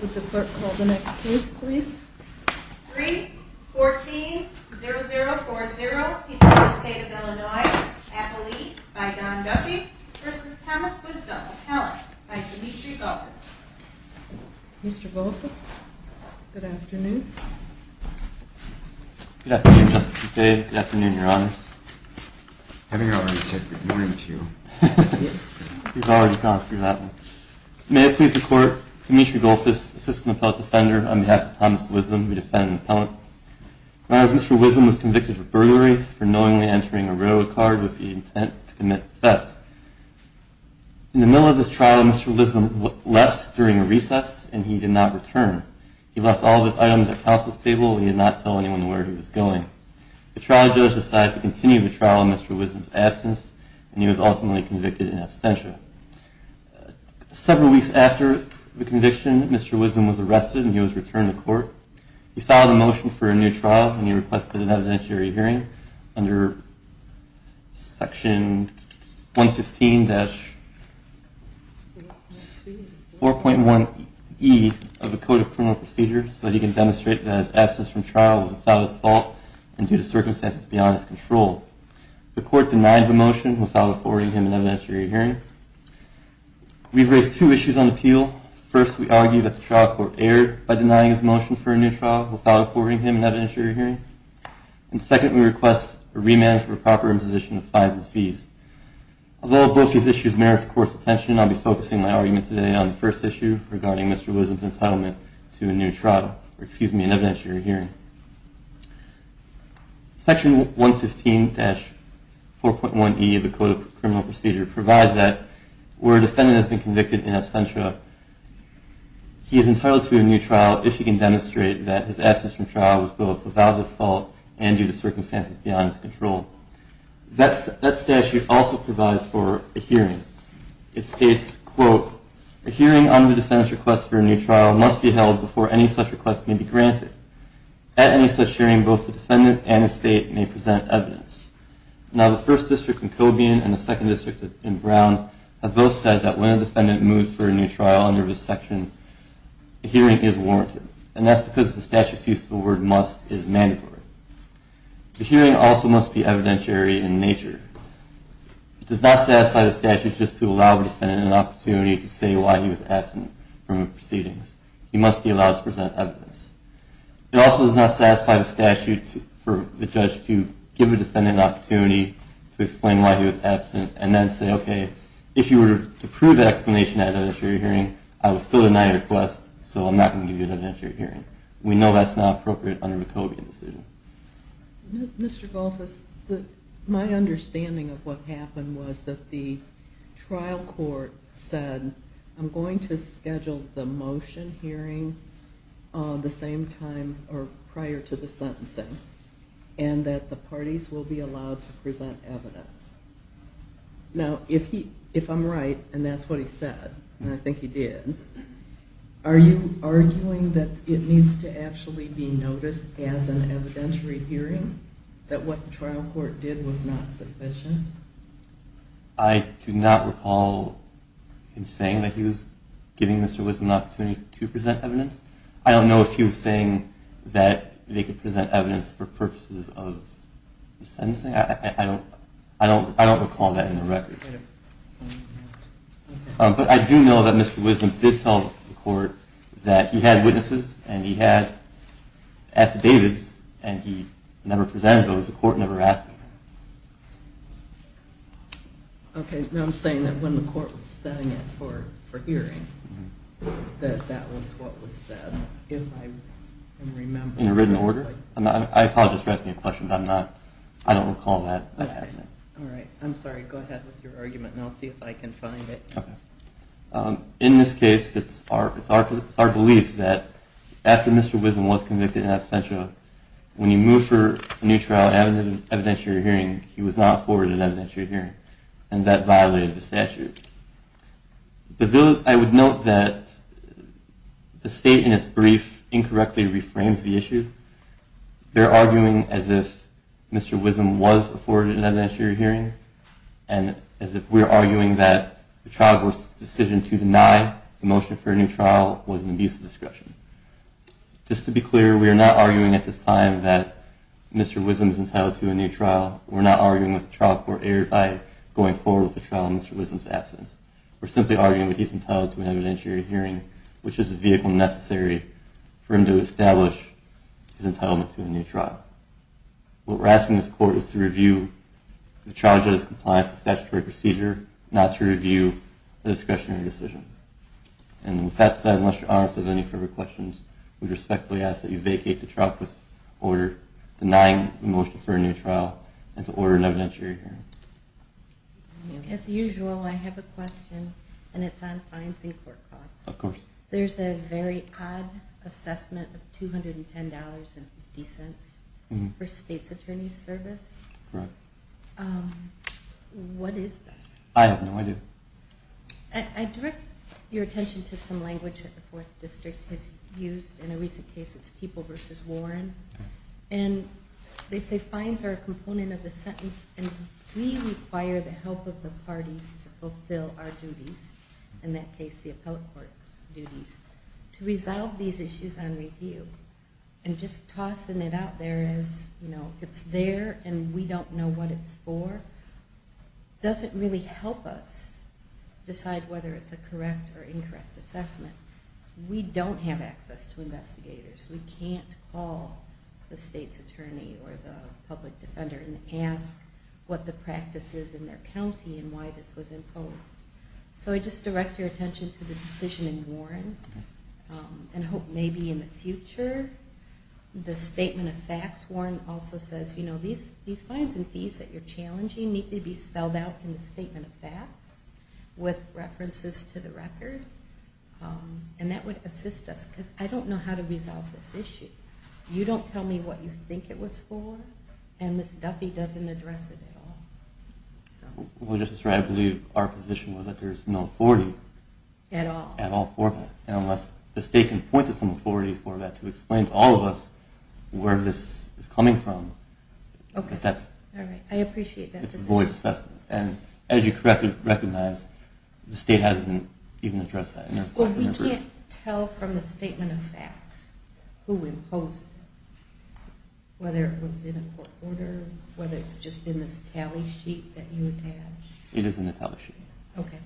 Would the clerk call the next case, please? 3-14-0040, Peterborough State of Illinois, Appellee, by Don Duffy, v. Thomas Wisdom, Appellant, by Demetri Goldfuss. Mr. Goldfuss, good afternoon. Good afternoon, Justice McVeigh. Good afternoon, Your Honors. Having already said good morning to you. He's already gone through that one. May it please the Court, Demetri Goldfuss, Assistant Appellate Defender, on behalf of Thomas Wisdom, we defend the Appellant. Your Honors, Mr. Wisdom was convicted of burglary for knowingly entering a railroad card with the intent to commit theft. In the middle of this trial, Mr. Wisdom left during a recess, and he did not return. He left all of his items at counsel's table, and he did not tell anyone where he was going. The trial judge decided to continue the trial in Mr. Wisdom's absence, and he was ultimately convicted in absentia. Several weeks after the conviction, Mr. Wisdom was arrested, and he was returned to court. He filed a motion for a new trial, and he requested an evidentiary hearing under section 115-4.1e of the Code of Criminal Procedure, so that he can demonstrate that his absence from trial was without his fault and due to circumstances beyond his control. The Court denied the motion without affording him an evidentiary hearing. We've raised two issues on appeal. First, we argue that the trial court erred by denying his motion for a new trial without affording him an evidentiary hearing. And second, we request a remand for proper imposition of fines and fees. Although both these issues merit the Court's attention, I'll be focusing my argument today on the first issue regarding Mr. Wisdom's entitlement to a new trial, or excuse me, an evidentiary hearing. Section 115-4.1e of the Code of Criminal Procedure provides that where a defendant has been convicted in absentia, he is entitled to a new trial if he can demonstrate that his absence from trial was both without his fault and due to circumstances beyond his control. That statute also provides for a hearing. It states, quote, a hearing on the defendant's request for a new trial must be held before any such request may be granted. At any such hearing, both the defendant and his state may present evidence. Now, the First District in Cobian and the Second District in Brown have both said that when a defendant moves for a new trial under this section, a hearing is warranted, and that's because the statute's use of the word must is mandatory. The hearing also must be evidentiary in nature. It does not satisfy the statute just to allow the defendant an opportunity to say why he was absent from the proceedings. He must be allowed to present evidence. It also does not satisfy the statute for the judge to give a defendant an opportunity to explain why he was absent and then say, okay, if you were to prove that explanation at an evidentiary hearing, I would still deny your request, so I'm not going to give you an evidentiary hearing. We know that's not appropriate under the Cobian decision. Mr. Golthus, my understanding of what happened was that the trial court said, I'm going to schedule the motion hearing the same time or prior to the sentencing, and that the parties will be allowed to present evidence. Now, if I'm right, and that's what he said, and I think he did, are you arguing that it needs to actually be noticed as an evidentiary hearing, that what the trial court did was not sufficient? I do not recall him saying that he was giving Mr. Wisdom an opportunity to present evidence. I don't know if he was saying that they could present evidence for purposes of the sentencing. I don't recall that in the record. But I do know that Mr. Wisdom did tell the court that he had witnesses, and he had affidavits, and he never presented those. The court never asked him. Okay, now I'm saying that when the court was setting it for hearing, that that was what was said, if I can remember. In a written order. I apologize for asking a question, but I don't recall that happening. All right, I'm sorry. Go ahead with your argument, and I'll see if I can find it. In this case, it's our belief that after Mr. Wisdom was convicted in absentia, when you move for a new trial evidentiary hearing, he was not afforded an evidentiary hearing, and that violated the statute. But I would note that the state in its brief incorrectly reframes the issue. They're arguing as if Mr. Wisdom was afforded an evidentiary hearing, and as if we're arguing that the trial court's decision to deny the motion for a new trial was an abuse of discretion. Just to be clear, we are not arguing at this time that Mr. Wisdom is entitled to a new trial. We're not arguing with the trial court error by going forward with the trial in Mr. Wisdom's absence. We're simply arguing that he's entitled to an evidentiary hearing, which is the vehicle necessary for him to establish his entitlement to a new trial. What we're asking this court is to review the charge of his compliance with statutory procedure, not to review a discretionary decision. And with that said, unless you're honest with any further questions, we respectfully ask that you vacate the trial court's order denying the motion for a new trial and to order an evidentiary hearing. As usual, I have a question, and it's on financing court costs. Of course. There's a very odd assessment of $210.50 for state's attorney's service. Correct. What is that? I have no idea. I direct your attention to some language that the Fourth District has used. In a recent case, it's people versus Warren. And they say fines are a component of the sentence, and we require the help of the parties to fulfill our duties, in that case the appellate court's duties. To resolve these issues on review and just tossing it out there as, you know, it's there and we don't know what it's for, doesn't really help us decide whether it's a correct or incorrect assessment. We don't have access to investigators. We can't call the state's attorney or the public defender and ask what the practice is in their county and why this was imposed. So I just direct your attention to the decision in Warren, and I hope maybe in the future the statement of facts. Warren also says, you know, these fines and fees that you're challenging need to be spelled out in the statement of facts with references to the record, and that would assist us because I don't know how to resolve this issue. You don't tell me what you think it was for, and Ms. Duffy doesn't address it at all. Well, Justice Wright, I believe our position was that there's no authority. At all. At all for that, and unless the state can point to some authority for that to explain to all of us where this is coming from. Okay. I appreciate that. It's a void assessment, and as you correctly recognize the state hasn't even addressed that. Well, we can't tell from the statement of facts who imposed it, whether it was in a court order, whether it's just in this tally sheet that you attach. It is in the tally sheet. Okay.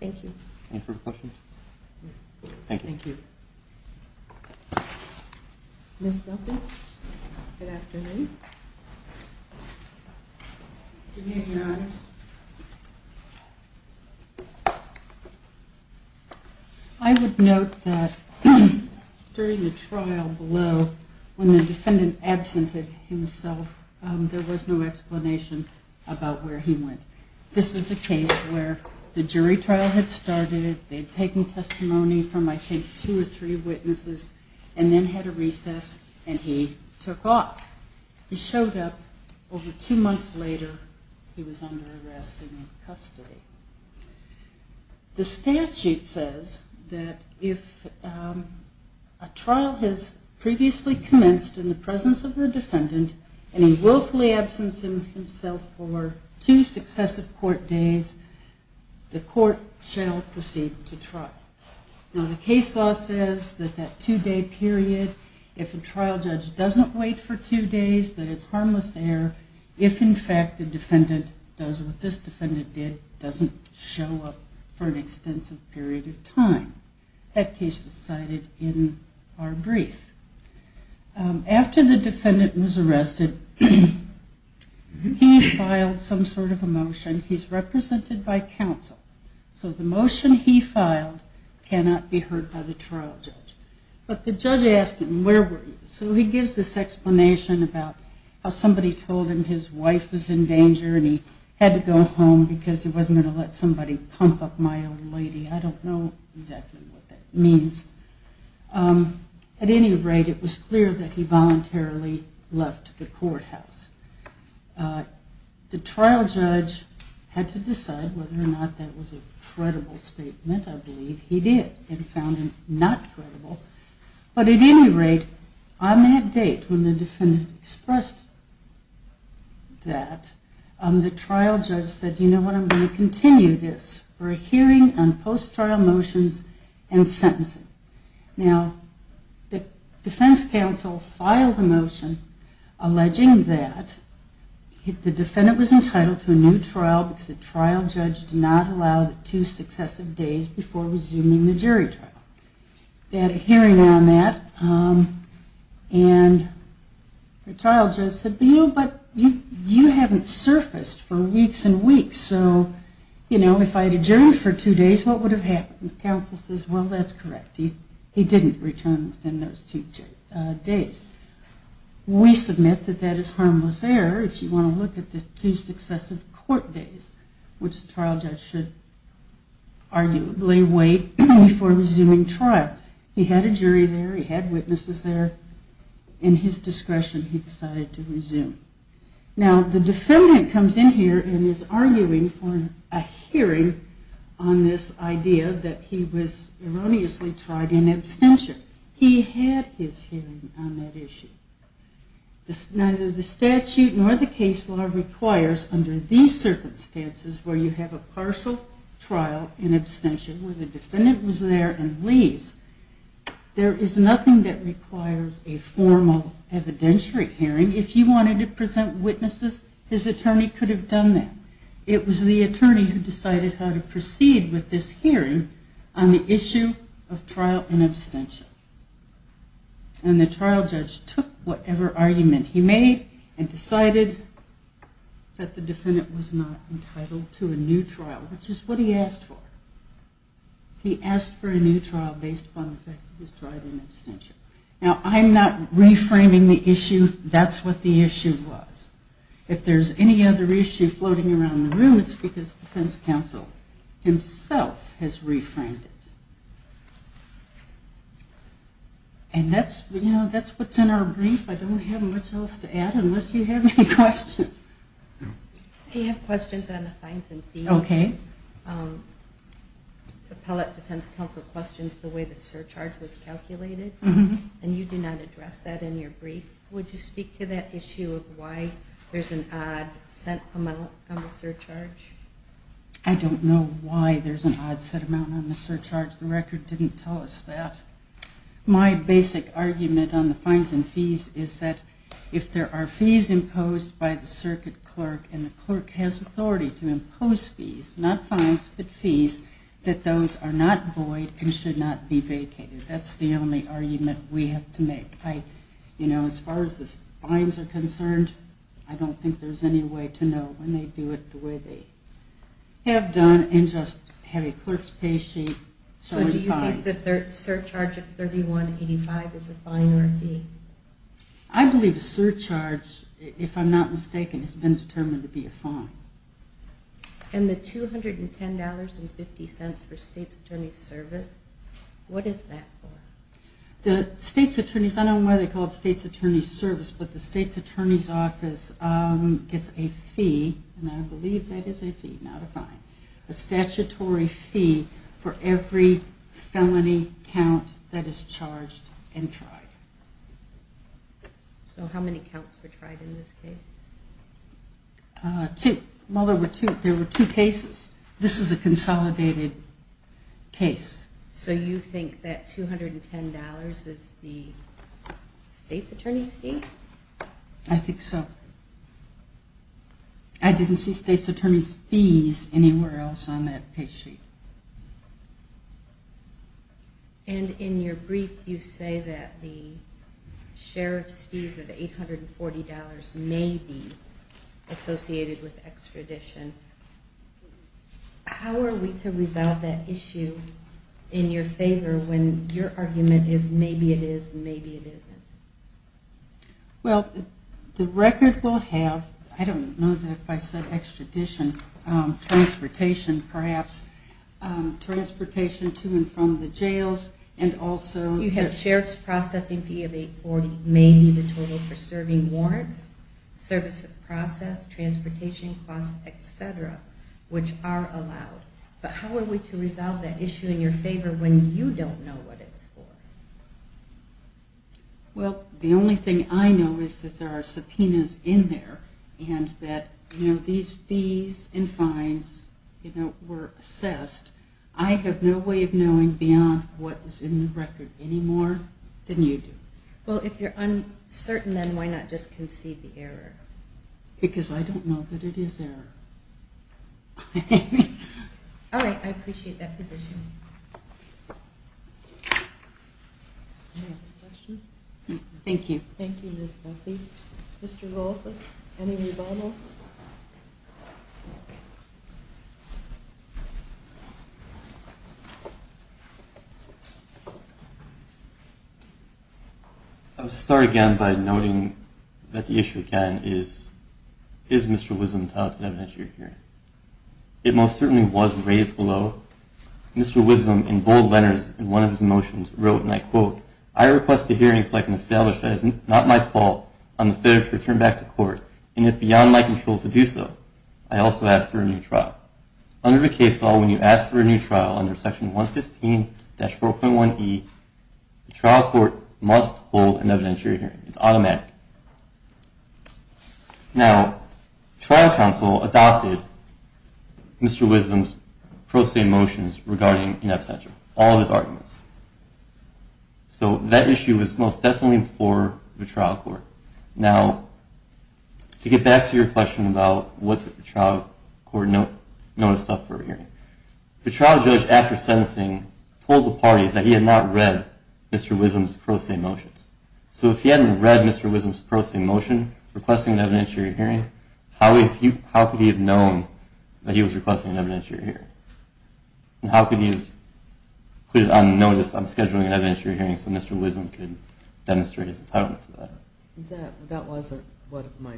Thank you. Any further questions? Thank you. Thank you. Ms. Duffy, good afternoon. Did you have your honors? I would note that during the trial below, when the defendant absented himself, there was no explanation about where he went. This is a case where the jury trial had started. They had taken testimony from, I think, two or three witnesses and then had a recess, and he took off. He showed up over two months later. He was under arrest and in custody. The statute says that if a trial has previously commenced in the presence of the defendant and he willfully absents himself for two successive court days, the court shall proceed to trial. Now, the case law says that that two-day period, if a trial judge doesn't wait for two days, that it's harmless error if, in fact, the defendant does what this defendant did, doesn't show up for an extensive period of time. That case is cited in our brief. After the defendant was arrested, he filed some sort of a motion. He's represented by counsel. So the motion he filed cannot be heard by the trial judge. But the judge asked him, where were you? So he gives this explanation about how somebody told him his wife was in danger and he had to go home because he wasn't going to let somebody pump up my old lady. I don't know exactly what that means. At any rate, it was clear that he voluntarily left the courthouse. The trial judge had to decide whether or not that was a credible statement. I believe he did and found it not credible. But at any rate, on that date when the defendant expressed that, the trial judge said, you know what, I'm going to continue this for a hearing on post-trial motions and sentencing. Now, the defense counsel filed a motion alleging that the defendant was entitled to a new trial because the trial judge did not allow the two successive days before resuming the jury trial. They had a hearing on that and the trial judge said, but you haven't surfaced for weeks and weeks. So if I had adjourned for two days, what would have happened? The counsel says, well, that's correct. He didn't return within those two days. We submit that that is harmless error if you want to look at the two successive court days, which the trial judge should arguably wait before resuming trial. He had a jury there. He had witnesses there. In his discretion, he decided to resume. Now, the defendant comes in here and is arguing for a hearing on this idea that he was erroneously tried in absentia. He had his hearing on that issue. Neither the statute nor the case law requires under these circumstances where you have a partial trial in absentia where the defendant was there and leaves, there is nothing that requires a formal evidentiary hearing. If he wanted to present witnesses, his attorney could have done that. It was the attorney who decided how to proceed with this hearing on the issue of trial in absentia. And the trial judge took whatever argument he made and decided that the defendant was not entitled to a new trial, which is what he asked for. He asked for a new trial based upon the fact that he was tried in absentia. Now, I'm not reframing the issue. That's what the issue was. If there's any other issue floating around the room, it's because defense counsel himself has reframed it. And that's what's in our brief. I don't have much else to add unless you have any questions. I have questions on the fines and fees. Appellate defense counsel questions the way the surcharge was calculated, and you do not address that in your brief. Would you speak to that issue of why there's an odd set amount on the surcharge? I don't know why there's an odd set amount on the surcharge. The record didn't tell us that. My basic argument on the fines and fees is that if there are fees imposed by the circuit clerk and the clerk has authority to impose fees, not fines but fees, that those are not void and should not be vacated. That's the only argument we have to make. As far as the fines are concerned, I don't think there's any way to know when they do it the way they have done and just have a clerk's pay sheet showing the fines. So do you think the surcharge of $31.85 is a fine or a fee? I believe a surcharge, if I'm not mistaken, has been determined to be a fine. And the $210.50 for state's attorney's service, what is that for? The state's attorney's, I don't know why they call it state's attorney's service, but the state's attorney's office gets a fee, and I believe that is a fee, not a fine, a statutory fee for every felony count that is charged and tried. So how many counts were tried in this case? Two. Well, there were two cases. This is a consolidated case. So you think that $210.00 is the state's attorney's fees? I think so. I didn't see state's attorney's fees anywhere else on that pay sheet. And in your brief, you say that the sheriff's fees of $840.00 may be associated with extradition. How are we to resolve that issue in your favor when your argument is maybe it is, maybe it isn't? Well, the record will have, I don't know that if I said extradition, transportation perhaps, transportation to and from the jails, and also- You have sheriff's processing fee of $840.00 may be the total for serving warrants, service of process, transportation costs, et cetera, which are allowed. But how are we to resolve that issue in your favor when you don't know what it's for? Well, the only thing I know is that there are subpoenas in there and that these fees and fines were assessed. I have no way of knowing beyond what is in the record anymore than you do. Well, if you're uncertain, then why not just concede the error? Because I don't know that it is error. All right, I appreciate that position. Any other questions? Thank you. Thank you, Ms. Duffy. Mr. Wolfe, any rebuttal? I'll start again by noting that the issue again is, is Mr. Wisdom touted evidence you're hearing? It most certainly was raised below. Mr. Wisdom in bold letters in one of his motions wrote, and I quote, I request a hearing so I can establish that it is not my fault I'm fitter to return back to court, and if beyond my control to do so, I also ask for a new trial. Under the case law, when you ask for a new trial under Section 115-4.1e, the trial court must hold an evidentiary hearing. It's automatic. Now, trial counsel adopted Mr. Wisdom's pro se motions regarding in absentia, all of his arguments. So that issue is most definitely for the trial court. Now, to get back to your question about what the trial court noticed up for a hearing, the trial judge, after sentencing, told the parties that he had not read Mr. Wisdom's pro se motions. So if he hadn't read Mr. Wisdom's pro se motion requesting an evidentiary hearing, how could he have known that he was requesting an evidentiary hearing? How could he have put it on notice, I'm scheduling an evidentiary hearing, so Mr. Wisdom could demonstrate his entitlement to that? That wasn't what my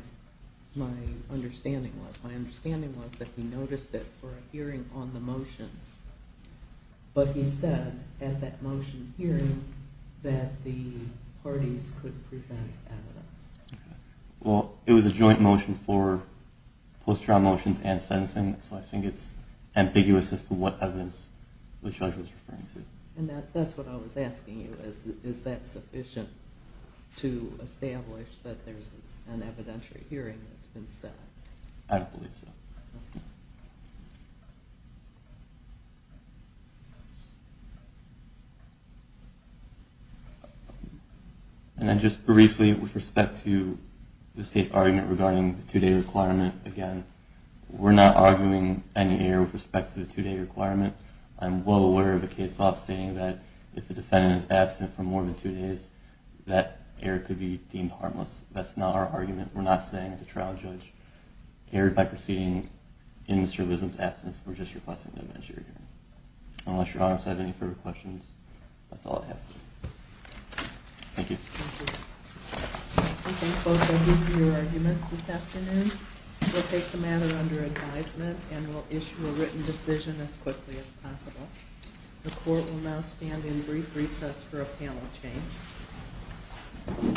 understanding was. My understanding was that he noticed it for a hearing on the motions, but he said at that motion hearing that the parties could present evidence. Well, it was a joint motion for post-trial motions and sentencing, so I think it's ambiguous as to what evidence the judge was referring to. And that's what I was asking you, is that sufficient to establish that there's an evidentiary hearing that's been set? I don't believe so. And then just briefly with respect to the state's argument regarding the arguing any error with respect to the two-day requirement, I'm well aware of a case law stating that if the defendant is absent for more than two days, that error could be deemed harmless. That's not our argument. We're not saying that the trial judge erred by proceeding in Mr. Wisdom's absence or just requesting an evidentiary hearing. Unless Your Honor has any further questions, that's all I have for you. Thank you. Thank you. Okay, folks, I'll leave you to your arguments this afternoon. We'll take the matter under advisement and we'll issue a written decision as quickly as possible. The court will now stand in brief recess for a panel change.